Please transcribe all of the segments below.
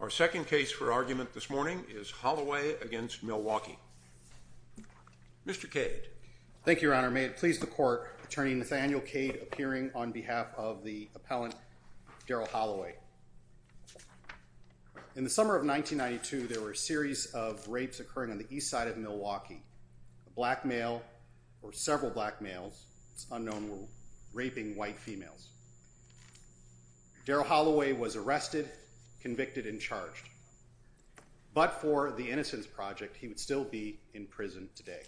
Our second case for argument this morning is Holloway v. Milwaukee. Mr. Cade. Thank you, Your Honor. May it please the Court, Attorney Nathaniel Cade appearing on behalf of the appellant Daryl Holloway. In the summer of 1992, there were a series of rapes occurring on the east side of Milwaukee. A black male, or several black males, it's unknown, were raping white females. Daryl Holloway was arrested, convicted, and charged. But for the Innocence Project, he would still be in prison today.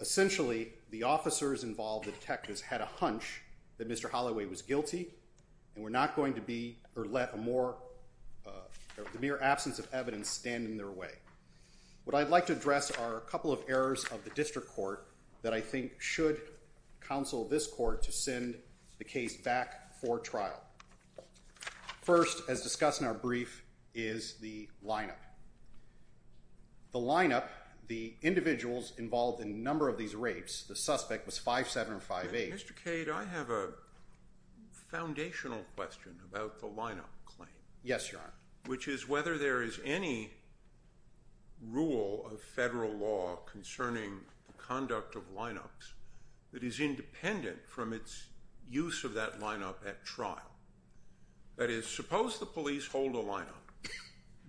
Essentially, the officers involved, the detectives, had a hunch that Mr. Holloway was guilty and were not going to let the mere absence of evidence stand in their way. What I'd like to address are a couple of errors of the district court that I think should counsel this court to send the case back for trial. First, as discussed in our brief, is the lineup. The lineup, the individuals involved in a number of these rapes, the suspect was 5758. Mr. Cade, I have a foundational question about the lineup claim. Yes, Your Honor. Which is whether there is any rule of federal law concerning the conduct of lineups that is independent from its use of that lineup at trial. That is, suppose the police hold a lineup,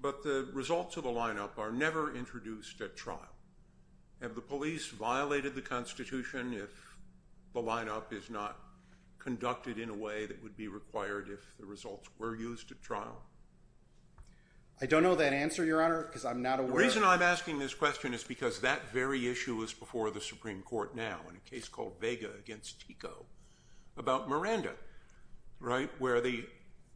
but the results of the lineup are never introduced at trial. Have the police violated the Constitution if the lineup is not conducted in a way that would be required if the results were used at trial? I don't know that answer, Your Honor, because I'm not aware of it. The reason I'm asking this question is because that very issue was before the Supreme Court now, in a case called Vega against Tico, about Miranda, right? Where the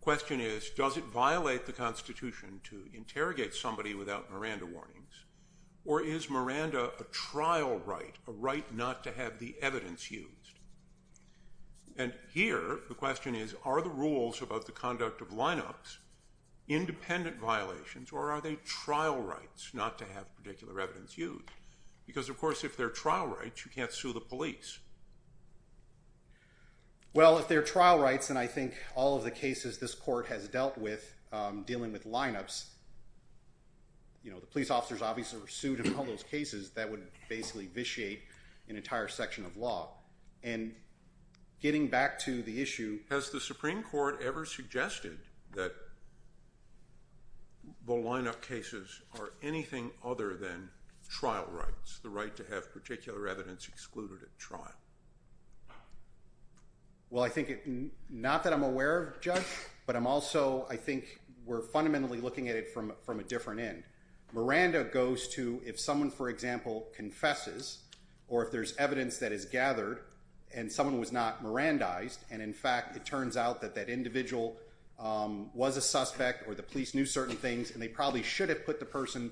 question is, does it violate the Constitution to interrogate somebody without Miranda warnings? Or is Miranda a trial right, a right not to have the evidence used? And here, the question is, are the rules about the conduct of lineups independent violations, or are they trial rights not to have particular evidence used? Because, of course, if they're trial rights, you can't sue the police. Well, if they're trial rights, and I think all of the cases this court has dealt with dealing with lineups, you know, the police officers obviously were sued in all those cases. That would basically vitiate an entire section of law. And getting back to the issue— Has the Supreme Court ever suggested that the lineup cases are anything other than trial rights, Well, I think—not that I'm aware of, Judge, but I'm also—I think we're fundamentally looking at it from a different end. Miranda goes to if someone, for example, confesses, or if there's evidence that is gathered, and someone was not Mirandized, and in fact it turns out that that individual was a suspect, or the police knew certain things, and they probably should have put the person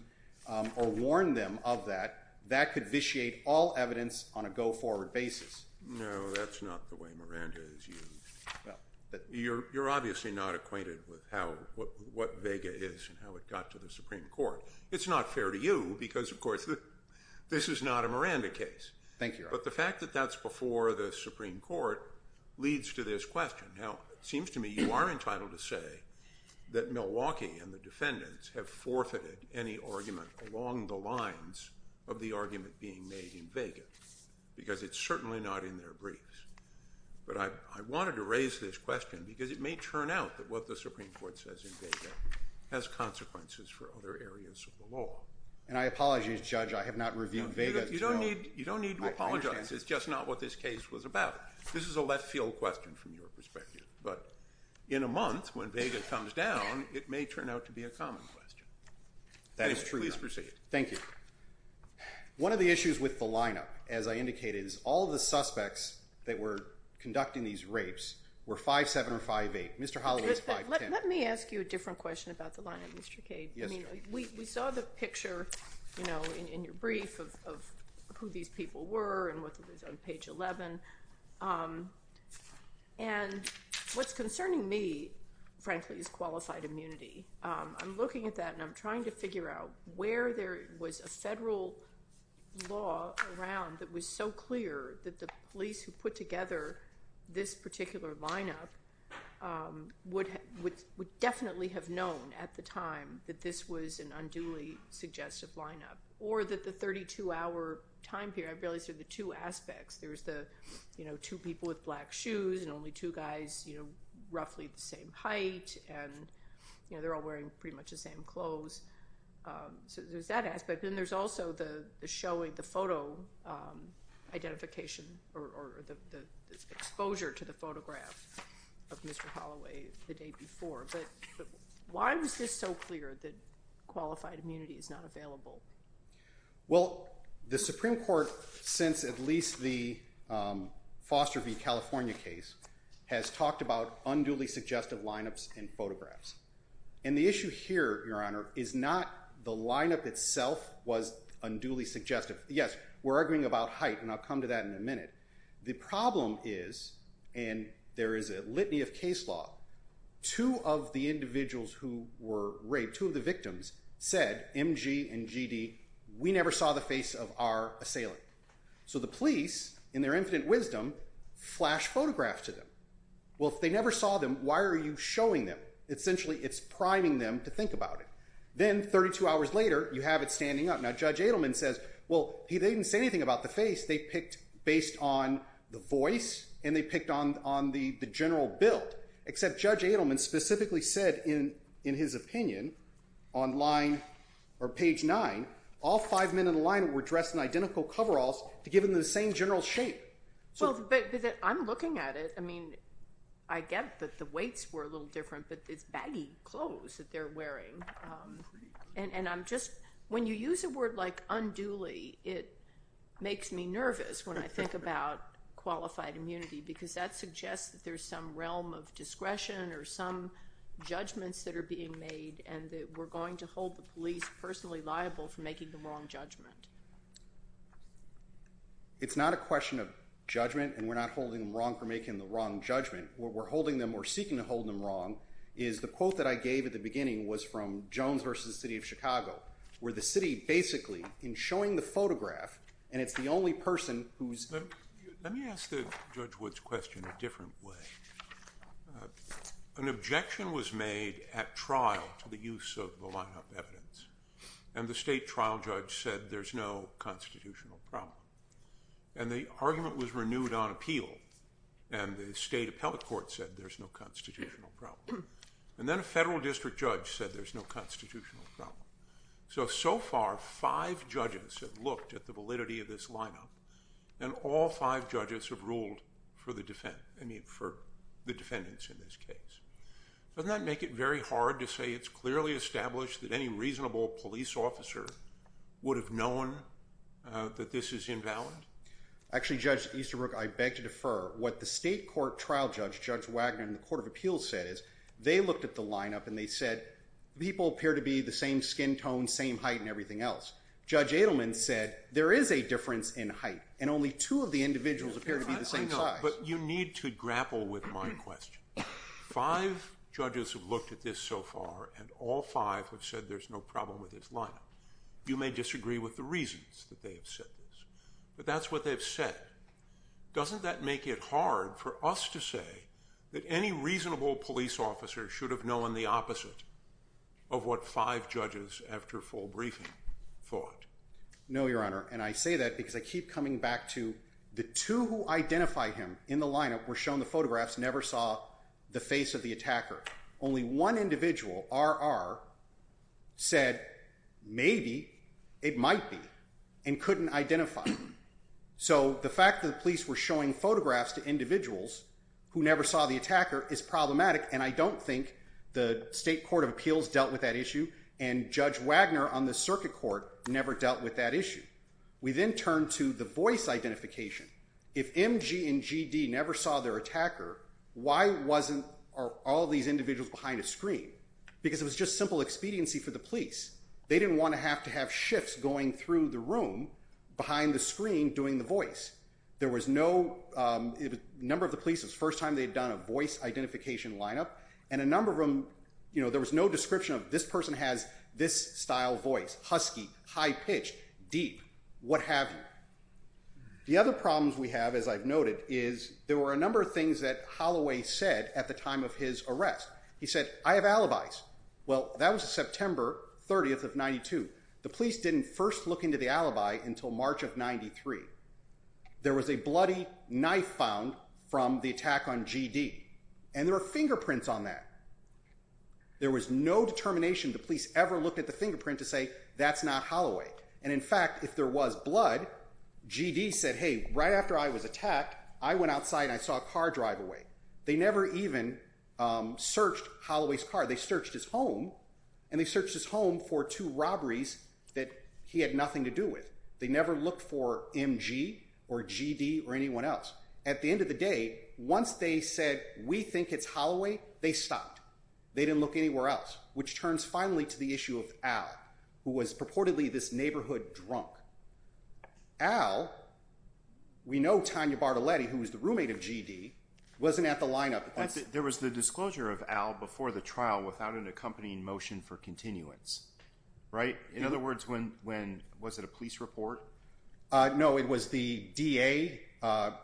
or warned them of that, that could vitiate all evidence on a go-forward basis. No, that's not the way Miranda is used. You're obviously not acquainted with what vega is and how it got to the Supreme Court. It's not fair to you because, of course, this is not a Miranda case. Thank you, Your Honor. But the fact that that's before the Supreme Court leads to this question. Now, it seems to me you are entitled to say that Milwaukee and the defendants have forfeited any argument along the lines of the argument being made in vega because it's certainly not in their briefs. But I wanted to raise this question because it may turn out that what the Supreme Court says in vega has consequences for other areas of the law. And I apologize, Judge, I have not reviewed vega. You don't need to apologize. It's just not what this case was about. This is a left-field question from your perspective. But in a month, when vega comes down, it may turn out to be a common question. That is true, Your Honor. Please proceed. Thank you. One of the issues with the lineup, as I indicated, is all the suspects that were conducting these rapes were 5'7 or 5'8. Mr. Holloway is 5'10. Let me ask you a different question about the lineup, Mr. Cade. Yes, Judge. We saw the picture in your brief of who these people were and what was on page 11. And what's concerning me, frankly, is qualified immunity. I'm looking at that, and I'm trying to figure out where there was a federal law around that was so clear that the police who put together this particular lineup would definitely have known at the time that this was an unduly suggestive lineup. Or that the 32-hour time period, I really see the two aspects. There's the two people with black shoes and only two guys roughly the same height, and they're all wearing pretty much the same clothes. So there's that aspect. And there's also the showing, the photo identification or the exposure to the photograph of Mr. Holloway the day before. But why was this so clear that qualified immunity is not available? Well, the Supreme Court, since at least the Foster v. California case, has talked about unduly suggestive lineups and photographs. And the issue here, Your Honor, is not the lineup itself was unduly suggestive. Yes, we're arguing about height, and I'll come to that in a minute. The problem is, and there is a litany of case law, two of the individuals who were raped, two of the victims, said, M.G. and G.D., we never saw the face of our assailant. So the police, in their infinite wisdom, flash photographs to them. Well, if they never saw them, why are you showing them? Essentially, it's priming them to think about it. Then, 32 hours later, you have it standing up. Now, Judge Adelman says, well, they didn't say anything about the face. They picked based on the voice, and they picked on the general build. Except Judge Adelman specifically said in his opinion on page 9, all five men in the lineup were dressed in identical coveralls to give them the same general shape. Well, but I'm looking at it. I mean, I get that the weights were a little different, but it's baggy clothes that they're wearing. And I'm just – when you use a word like unduly, it makes me nervous when I think about qualified immunity, because that suggests that there's some realm of discretion or some judgments that are being made and that we're going to hold the police personally liable for making the wrong judgment. It's not a question of judgment, and we're not holding them wrong for making the wrong judgment. What we're holding them or seeking to hold them wrong is the quote that I gave at the beginning was from Jones versus the city of Chicago, where the city basically, in showing the photograph, and it's the only person who's – Let me ask Judge Wood's question a different way. An objection was made at trial to the use of the lineup evidence, and the state trial judge said there's no constitutional problem. And the argument was renewed on appeal, and the state appellate court said there's no constitutional problem. And then a federal district judge said there's no constitutional problem. So, so far, five judges have looked at the validity of this lineup, and all five judges have ruled for the defendants in this case. Doesn't that make it very hard to say it's clearly established that any reasonable police officer would have known that this is invalid? Actually, Judge Easterbrook, I beg to defer. What the state court trial judge, Judge Wagner, in the court of appeals said is they looked at the lineup, and they said people appear to be the same skin tone, same height, and everything else. Judge Adelman said there is a difference in height, and only two of the individuals appear to be the same size. But you need to grapple with my question. Five judges have looked at this so far, and all five have said there's no problem with this lineup. You may disagree with the reasons that they have said this, but that's what they've said. Doesn't that make it hard for us to say that any reasonable police officer should have known the opposite of what five judges after full briefing thought? No, Your Honor, and I say that because I keep coming back to the two who identify him in the lineup were shown the photographs, never saw the face of the attacker. Only one individual, R.R., said maybe it might be and couldn't identify him. So the fact that the police were showing photographs to individuals who never saw the attacker is problematic, and I don't think the State Court of Appeals dealt with that issue, and Judge Wagner on the circuit court never dealt with that issue. We then turn to the voice identification. If M.G. and G.D. never saw their attacker, why wasn't all these individuals behind a screen? Because it was just simple expediency for the police. They didn't want to have to have shifts going through the room behind the screen doing the voice. There was no description of this person has this style voice, husky, high-pitched, deep, what have you. The other problems we have, as I've noted, is there were a number of things that Holloway said at the time of his arrest. He said, I have alibis. Well, that was September 30th of 92. The police didn't first look into the alibi until March of 93. There was a bloody knife found from the attack on G.D., and there were fingerprints on that. There was no determination the police ever looked at the fingerprint to say, that's not Holloway. And, in fact, if there was blood, G.D. said, hey, right after I was attacked, I went outside and I saw a car drive away. They never even searched Holloway's car. They searched his home, and they searched his home for two robberies that he had nothing to do with. They never looked for M.G. or G.D. or anyone else. At the end of the day, once they said, we think it's Holloway, they stopped. They didn't look anywhere else, which turns finally to the issue of Al, who was purportedly this neighborhood drunk. Al, we know Tanya Bartoletti, who was the roommate of G.D., wasn't at the lineup. There was the disclosure of Al before the trial without an accompanying motion for continuance, right? In other words, was it a police report? No, it was the D.A.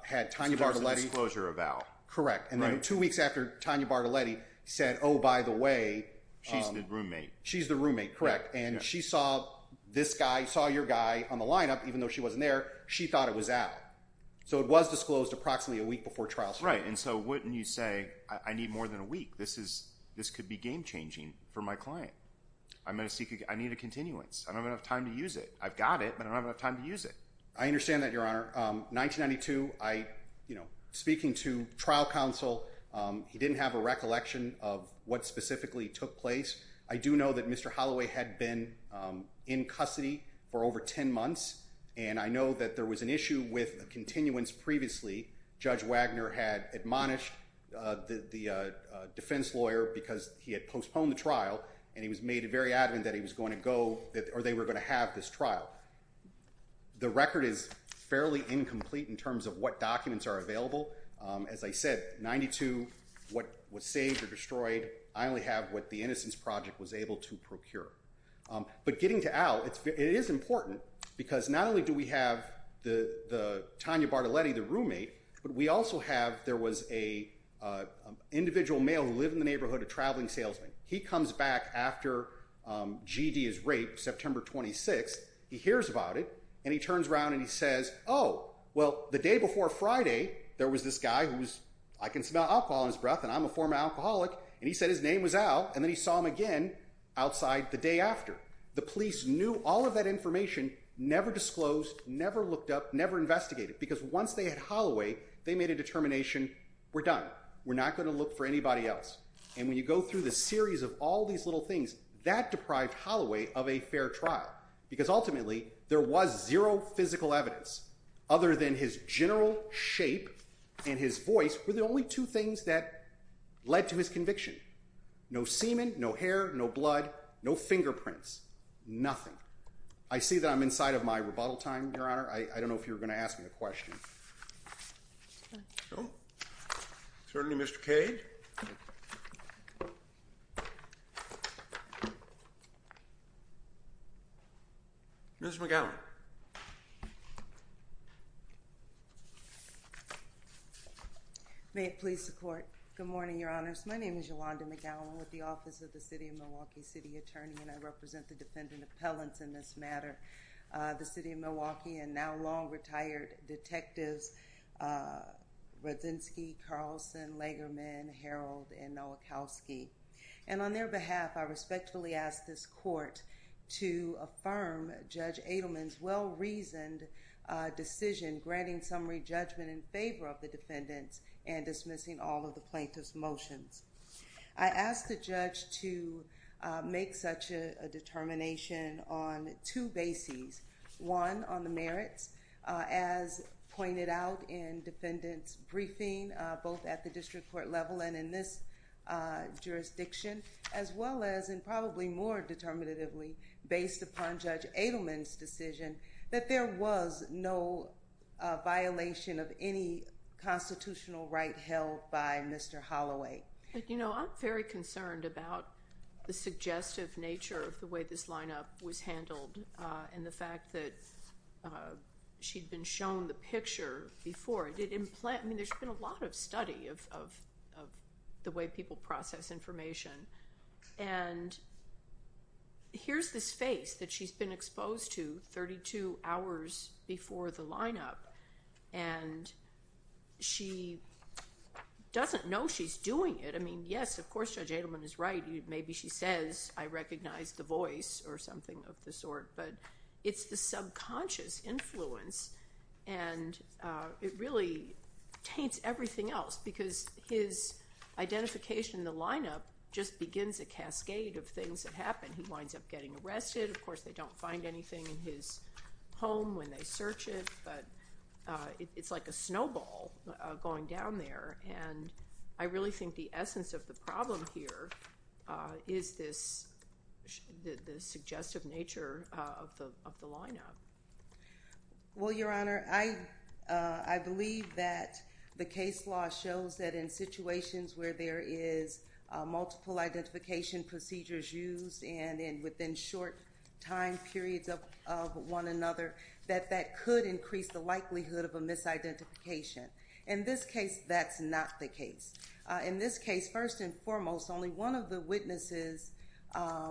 had Tanya Bartoletti. So there was a disclosure of Al. Correct. And then two weeks after, Tanya Bartoletti said, oh, by the way. She's the roommate. She's the roommate, correct. And she saw this guy, saw your guy on the lineup, even though she wasn't there. She thought it was Al. So it was disclosed approximately a week before trial started. That's right. And so wouldn't you say, I need more than a week. This could be game changing for my client. I need a continuance. I don't have enough time to use it. I've got it, but I don't have enough time to use it. I understand that, Your Honor. 1992, speaking to trial counsel, he didn't have a recollection of what specifically took place. I do know that Mr. Holloway had been in custody for over 10 months. And I know that there was an issue with a continuance previously. Judge Wagner had admonished the defense lawyer because he had postponed the trial. And he was made very adamant that he was going to go, or they were going to have this trial. The record is fairly incomplete in terms of what documents are available. As I said, 92, what was saved or destroyed, I only have what the Innocence Project was able to procure. But getting to Al, it is important because not only do we have Tanya Bartoletti, the roommate, but we also have, there was an individual male who lived in the neighborhood, a traveling salesman. He comes back after G.D. is raped, September 26th. He hears about it, and he turns around and he says, oh, well, the day before Friday, there was this guy who's, I can smell alcohol in his breath, and I'm a former alcoholic. And he said his name was Al, and then he saw him again outside the day after. The police knew all of that information, never disclosed, never looked up, never investigated. Because once they had Holloway, they made a determination, we're done. We're not going to look for anybody else. And when you go through the series of all these little things, that deprived Holloway of a fair trial. Because ultimately, there was zero physical evidence other than his general shape and his voice were the only two things that led to his conviction. No semen, no hair, no blood, no fingerprints, nothing. I see that I'm inside of my rebuttal time, Your Honor. I don't know if you're going to ask me a question. Well, certainly, Mr. Cade. Ms. McGowan. May it please the Court. Good morning, Your Honors. My name is Yolanda McGowan with the Office of the City of Milwaukee City Attorney, and I represent the defendant appellants in this matter. The City of Milwaukee and now long-retired detectives Rodzinski, Carlson, Legerman, Harold, and Nowakowski. And on their behalf, I respectfully ask this Court to affirm Judge Adelman's well-reasoned decision granting summary judgment in favor of the defendants and dismissing all of the plaintiff's motions. I ask the judge to make such a determination on two bases. One, on the merits, as pointed out in defendant's briefing, both at the district court level and in this jurisdiction, as well as, and probably more determinatively, based upon Judge Adelman's decision, that there was no violation of any constitutional right held by Mr. Holloway. You know, I'm very concerned about the suggestive nature of the way this lineup was handled and the fact that she'd been shown the picture before. I mean, there's been a lot of study of the way people process information, and here's this face that she's been exposed to 32 hours before the lineup, and she doesn't know she's doing it. I mean, yes, of course Judge Adelman is right. Maybe she says, I recognize the voice or something of the sort, but it's the subconscious influence, and it really taints everything else because his identification in the lineup just begins a cascade of things that happen. He winds up getting arrested. Of course, they don't find anything in his home when they search it, but it's like a snowball going down there, and I really think the essence of the problem here is the suggestive nature of the lineup. Well, Your Honor, I believe that the case law shows that in situations where there is multiple identification procedures used and within short time periods of one another that that could increase the likelihood of a misidentification. In this case, that's not the case. In this case, first and foremost, only one of the witnesses,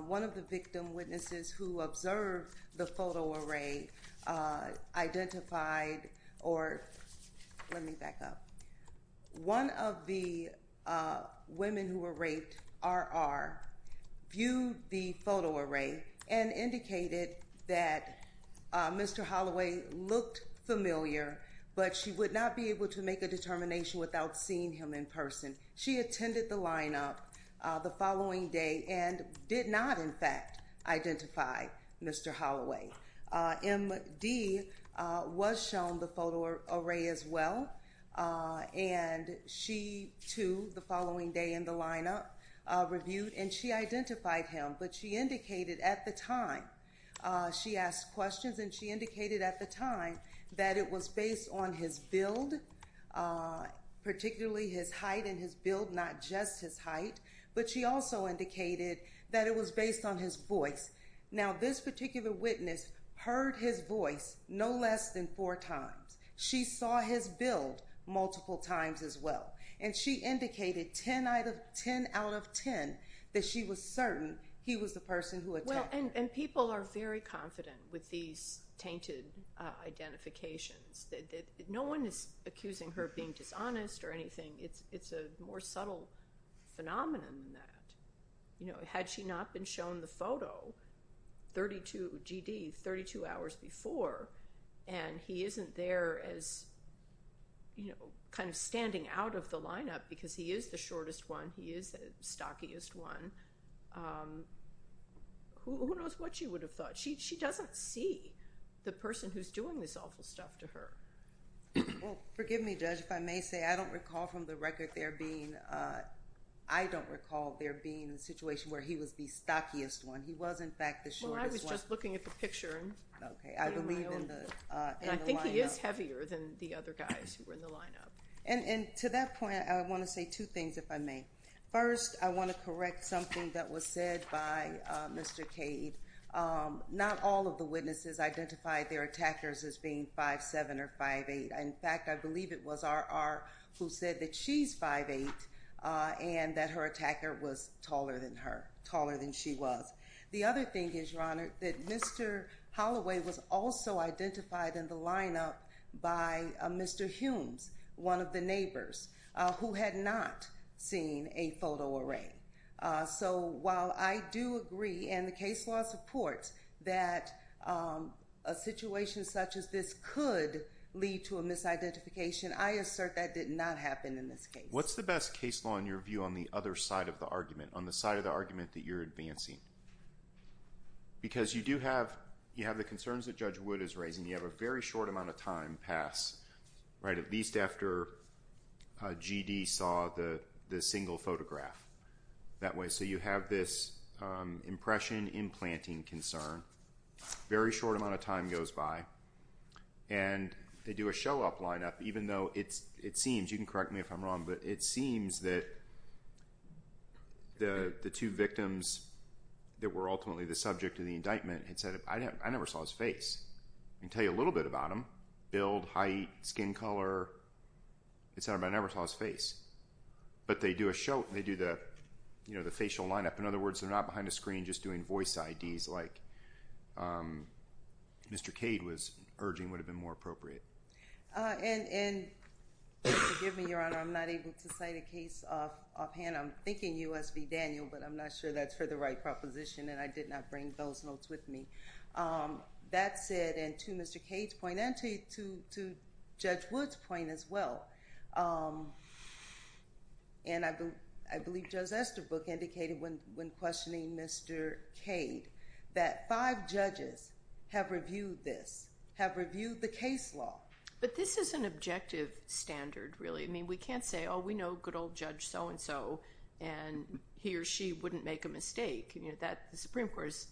one of the victim witnesses who observed the photo array identified or let me back up, one of the women who were raped, R.R., viewed the photo array and indicated that Mr. Holloway looked familiar, but she would not be able to make a determination without seeing him in person. She attended the lineup the following day and did not, in fact, identify Mr. Holloway. M.D. was shown the photo array as well, and she, too, the following day in the lineup, reviewed, and she identified him, but she indicated at the time she asked questions and she indicated at the time that it was based on his build, particularly his height and his build, not just his height, but she also indicated that it was based on his voice. Now, this particular witness heard his voice no less than four times. She saw his build multiple times as well, and she indicated 10 out of 10 that she was certain he was the person who attacked her. Well, and people are very confident with these tainted identifications. No one is accusing her of being dishonest or anything. It's a more subtle phenomenon than that. Had she not been shown the photo, G.D., 32 hours before, and he isn't there as kind of standing out of the lineup because he is the shortest one, he is the stockiest one, who knows what she would have thought. She doesn't see the person who's doing this awful stuff to her. Well, forgive me, Judge, if I may say, I don't recall from the record there being, I don't recall there being a situation where he was the stockiest one. He was, in fact, the shortest one. Well, I was just looking at the picture. Okay. I believe in the lineup. And I think he is heavier than the other guys who were in the lineup. And to that point, I want to say two things, if I may. First, I want to correct something that was said by Mr. Cade. Not all of the witnesses identified their attackers as being 5'7 or 5'8. In fact, I believe it was R.R. who said that she's 5'8 and that her attacker was taller than her, taller than she was. The other thing is, Your Honor, that Mr. Holloway was also identified in the lineup by Mr. Humes, one of the neighbors, who had not seen a photo array. So while I do agree and the case law supports that a situation such as this could lead to a misidentification, I assert that did not happen in this case. What's the best case law, in your view, on the other side of the argument, on the side of the argument that you're advancing? Because you do have the concerns that Judge Wood is raising. You have a very short amount of time pass, right, at least after G.D. saw the single photograph that way. So you have this impression, implanting concern. A very short amount of time goes by. And they do a show-off lineup, even though it seems, you can correct me if I'm wrong, but it seems that the two victims that were ultimately the subject of the indictment had said, I never saw his face. I can tell you a little bit about him, build, height, skin color, et cetera, but I never saw his face. But they do a show, they do the facial lineup. In other words, they're not behind a screen just doing voice IDs like Mr. Cade was urging would have been more appropriate. And forgive me, Your Honor, I'm not able to cite a case offhand. I'm thinking U.S. v. Daniel, but I'm not sure that's for the right proposition, and I did not bring those notes with me. That said, and to Mr. Cade's point and to Judge Wood's point as well, and I believe Judge Estabrook indicated when questioning Mr. Cade that five judges have reviewed this, have reviewed the case law. But this is an objective standard, really. I mean, we can't say, oh, we know good old Judge so-and-so, and he or she wouldn't make a mistake. The Supreme Court has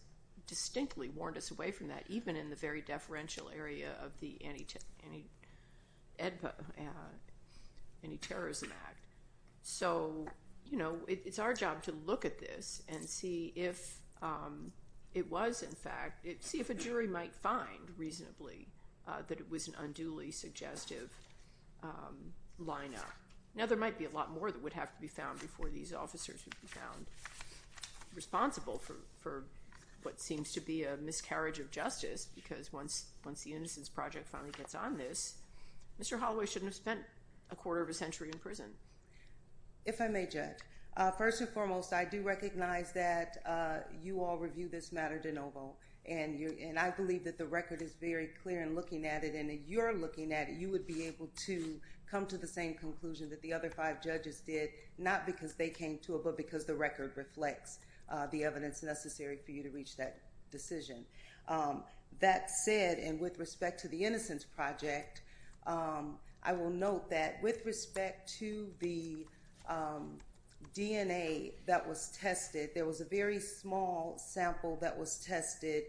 distinctly warned us away from that, even in the very deferential area of the Anti-Terrorism Act. So, you know, it's our job to look at this and see if it was, in fact, see if a jury might find reasonably that it was an unduly suggestive lineup. Now, there might be a lot more that would have to be found before these officers would be found responsible for what seems to be a miscarriage of justice, because once the Innocence Project finally gets on this, Mr. Holloway shouldn't have spent a quarter of a century in prison. If I may, Judge, first and foremost, I do recognize that you all review this matter de novo, and I believe that the record is very clear in looking at it, and if you're looking at it, you would be able to come to the same conclusion that the other five judges did, not because they came to it, but because the record reflects the evidence necessary for you to reach that decision. That said, and with respect to the Innocence Project, I will note that with respect to the DNA that was tested, there was a very small sample that was tested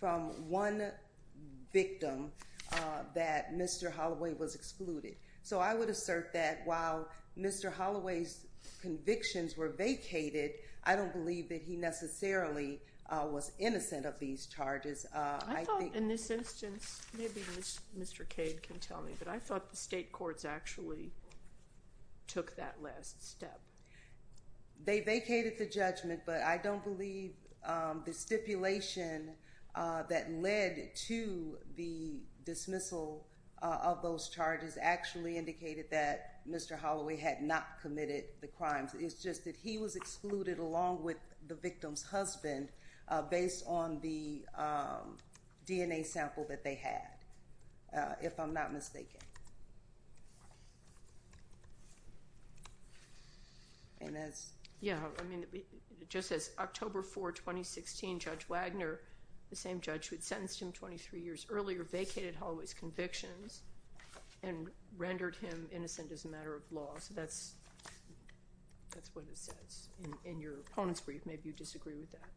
from one victim that Mr. Holloway was excluded. So I would assert that while Mr. Holloway's convictions were vacated, I don't believe that he necessarily was innocent of these charges. I thought in this instance, maybe Mr. Cade can tell me, but I thought the state courts actually took that last step. They vacated the judgment, but I don't believe the stipulation that led to the dismissal of those charges actually indicated that Mr. Holloway had not committed the crimes. It's just that he was excluded along with the victim's husband based on the DNA sample that they had, if I'm not mistaken. Yeah, I mean, just as October 4, 2016, Judge Wagner, the same judge who had sentenced him 23 years earlier, vacated Holloway's convictions and rendered him innocent as a matter of law. So that's what it says. In your opponent's brief, maybe you disagree with that.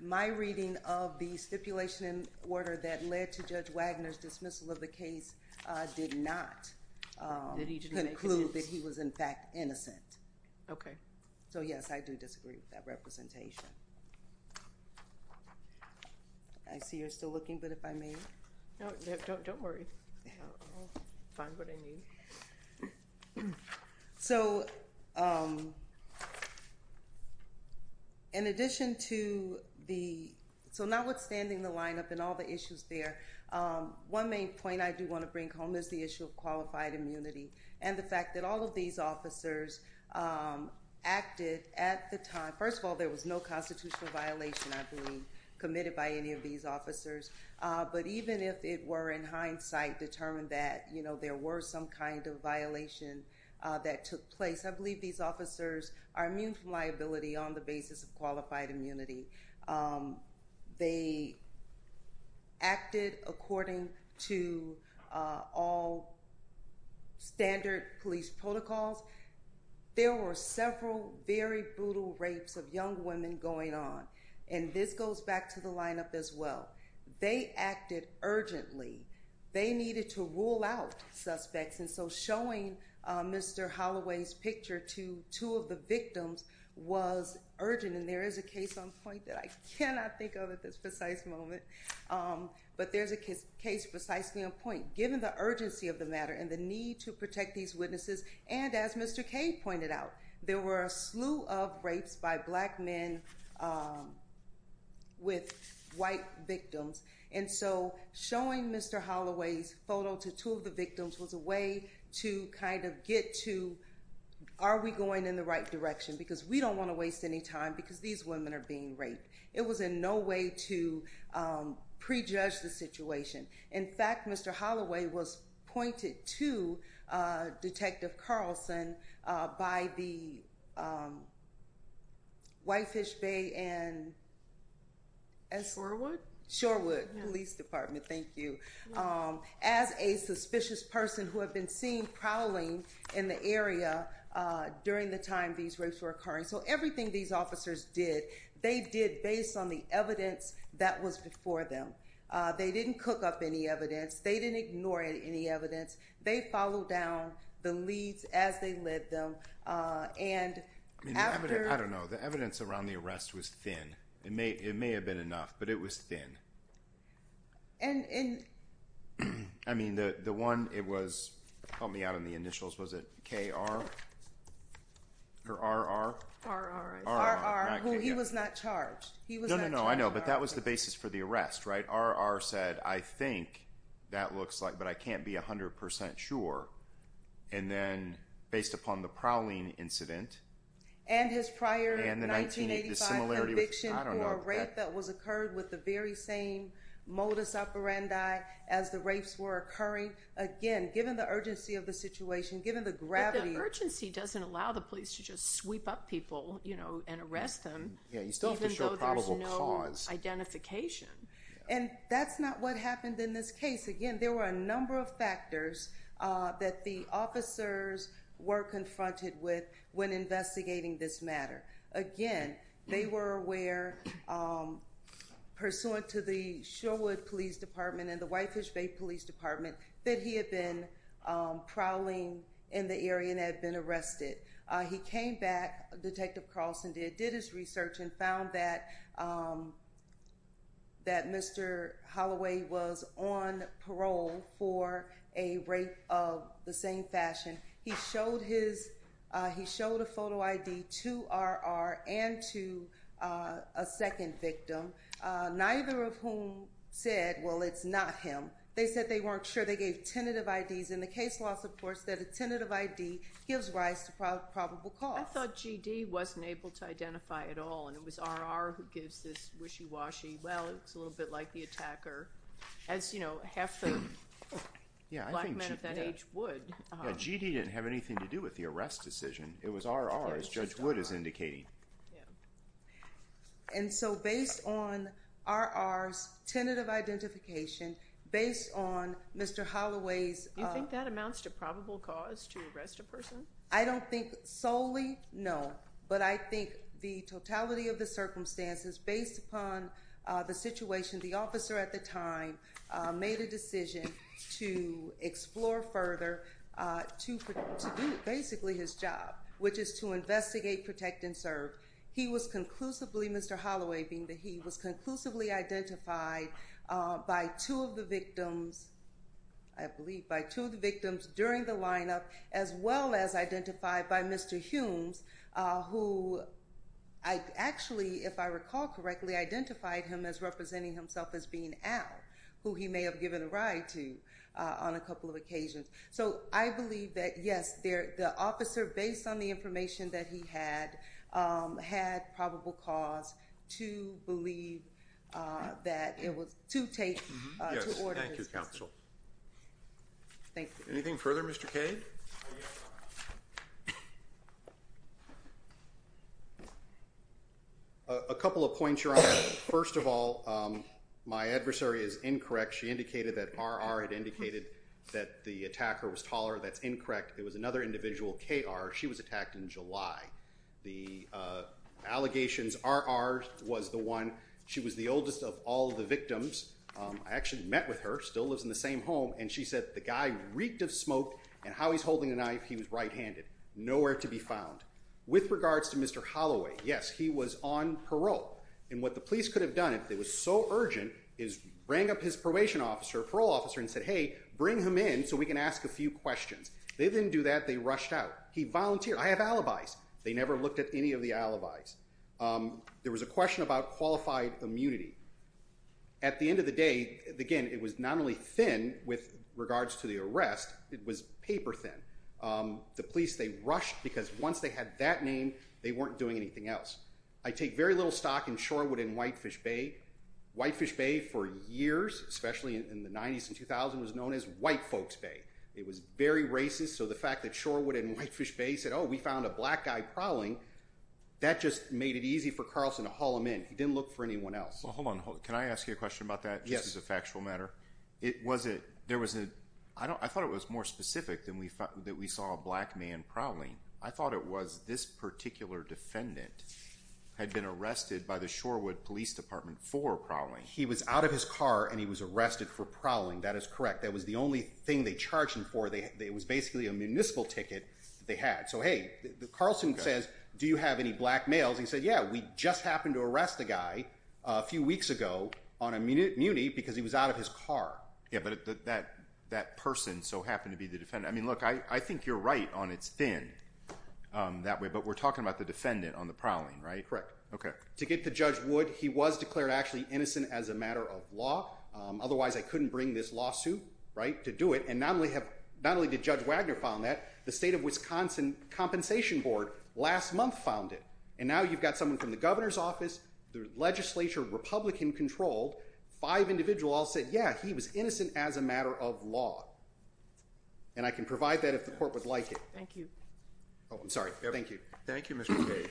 My reading of the stipulation in order that led to Judge Wagner's dismissal of the case did not conclude that he was in fact innocent. Okay. So yes, I do disagree with that representation. I see you're still looking, but if I may? No, don't worry. I'll find what I need. So in addition to the, so now withstanding the lineup and all the issues there, one main point I do want to bring home is the issue of qualified immunity and the fact that all of these officers acted at the time. First of all, there was no constitutional violation, I believe, committed by any of these officers. But even if it were in hindsight determined that there were some kind of violation that took place, I believe these officers are immune from liability on the basis of qualified immunity. They acted according to all standard police protocols. There were several very brutal rapes of young women going on. And this goes back to the lineup as well. They acted urgently. They needed to rule out suspects. And so showing Mr. Holloway's picture to two of the victims was urgent. And there is a case on point that I cannot think of at this precise moment. But there's a case precisely on point. Given the urgency of the matter and the need to protect these witnesses, and as Mr. Kaye pointed out, there were a slew of rapes by black men with white victims. And so showing Mr. Holloway's photo to two of the victims was a way to kind of get to are we going in the right direction? Because we don't want to waste any time because these women are being raped. It was in no way to prejudge the situation. In fact, Mr. Holloway was pointed to Detective Carlson by the Whitefish Bay and Shorewood Police Department, thank you, as a suspicious person who had been seen prowling in the area during the time these rapes were occurring. So everything these officers did, they did based on the evidence that was before them. They didn't cook up any evidence. They didn't ignore any evidence. They followed down the leads as they led them. And after- I don't know. The evidence around the arrest was thin. It may have been enough, but it was thin. And- I mean, the one it was, help me out on the initials, was it K.R.? Or R.R.? R.R. R.R., who he was not charged. He was not charged. No, I know, but that was the basis for the arrest, right? R.R. said, I think that looks like, but I can't be 100% sure. And then based upon the prowling incident- And his prior 1985 conviction for a rape that was occurred with the very same modus operandi as the rapes were occurring. Again, given the urgency of the situation, given the gravity- But the urgency doesn't allow the police to just sweep up people, you know, and arrest them. Yeah, you still have to show probable cause. Even though there's no identification. And that's not what happened in this case. Again, there were a number of factors that the officers were confronted with when investigating this matter. Again, they were aware, pursuant to the Sherwood Police Department and the Whitefish Bay Police Department, that he had been prowling in the area and had been arrested. He came back, Detective Carlson did, did his research and found that Mr. Holloway was on parole for a rape of the same fashion. He showed a photo ID to R.R. and to a second victim, neither of whom said, well, it's not him. They said they weren't sure. They gave tentative IDs. And the case law supports that a tentative ID gives rise to probable cause. I thought G.D. wasn't able to identify at all. And it was R.R. who gives this wishy-washy, well, it's a little bit like the attacker. As, you know, half the black men of that age would. Yeah, G.D. didn't have anything to do with the arrest decision. It was R.R., as Judge Wood is indicating. And so based on R.R.'s tentative identification, based on Mr. Holloway's- You think that amounts to probable cause to arrest a person? I don't think solely, no. But I think the totality of the circumstances, based upon the situation, the officer at the time made a decision to explore further to do basically his job, which is to investigate, protect, and serve. He was conclusively, Mr. Holloway being the he, was conclusively identified by two of the victims, I believe by two of the victims during the lineup, as well as identified by Mr. Humes, who I actually, if I recall correctly, identified him as representing himself as being Al, who he may have given a ride to on a couple of occasions. So I believe that, yes, the officer, based on the information that he had, had probable cause to believe that it was to take- Yes, thank you, counsel. Thank you. Anything further, Mr. Kade? A couple of points, Your Honor. First of all, my adversary is incorrect. She indicated that R.R. had indicated that the attacker was taller. That's incorrect. It was another individual, K.R. She was attacked in July. The allegations, R.R. was the one. She was the oldest of all the victims. I actually met with her, still lives in the same home, and she said the guy reeked of smoke, and how he's holding a knife, he was right-handed. Nowhere to be found. With regards to Mr. Holloway, yes, he was on parole. And what the police could have done, if it was so urgent, is bring up his probation officer, parole officer, and said, hey, bring him in so we can ask a few questions. They didn't do that. They rushed out. He volunteered. I have alibis. They never looked at any of the alibis. There was a question about qualified immunity. At the end of the day, again, it was not only thin with regards to the arrest, it was paper thin. The police, they rushed, because once they had that name, they weren't doing anything else. I take very little stock in Shorewood and Whitefish Bay. Whitefish Bay, for years, especially in the 90s and 2000s, was known as White Folks Bay. It was very racist, so the fact that Shorewood and Whitefish Bay said, oh, we found a black guy prowling, that just made it easy for Carlson to haul him in. He didn't look for anyone else. Hold on. Can I ask you a question about that, just as a factual matter? Yes. I thought it was more specific that we saw a black man prowling. I thought it was this particular defendant had been arrested by the Shorewood Police Department for prowling. He was out of his car, and he was arrested for prowling. That is correct. That was the only thing they charged him for. It was basically a municipal ticket that they had. So, hey, Carlson says, do you have any black males? He said, yeah, we just happened to arrest a guy a few weeks ago on immunity because he was out of his car. Yeah, but that person so happened to be the defendant. I mean, look, I think you're right on it's thin that way, but we're talking about the defendant on the prowling, right? Correct. To get to Judge Wood, he was declared actually innocent as a matter of law. Otherwise, I couldn't bring this lawsuit to do it. And not only did Judge Wagner file that, the state of Wisconsin Compensation Board last month filed it. And now you've got someone from the governor's office, the legislature, Republican-controlled, five individuals all said, yeah, he was innocent as a matter of law. And I can provide that if the court would like it. Thank you. Oh, I'm sorry. Thank you. Thank you, Mr. Cage.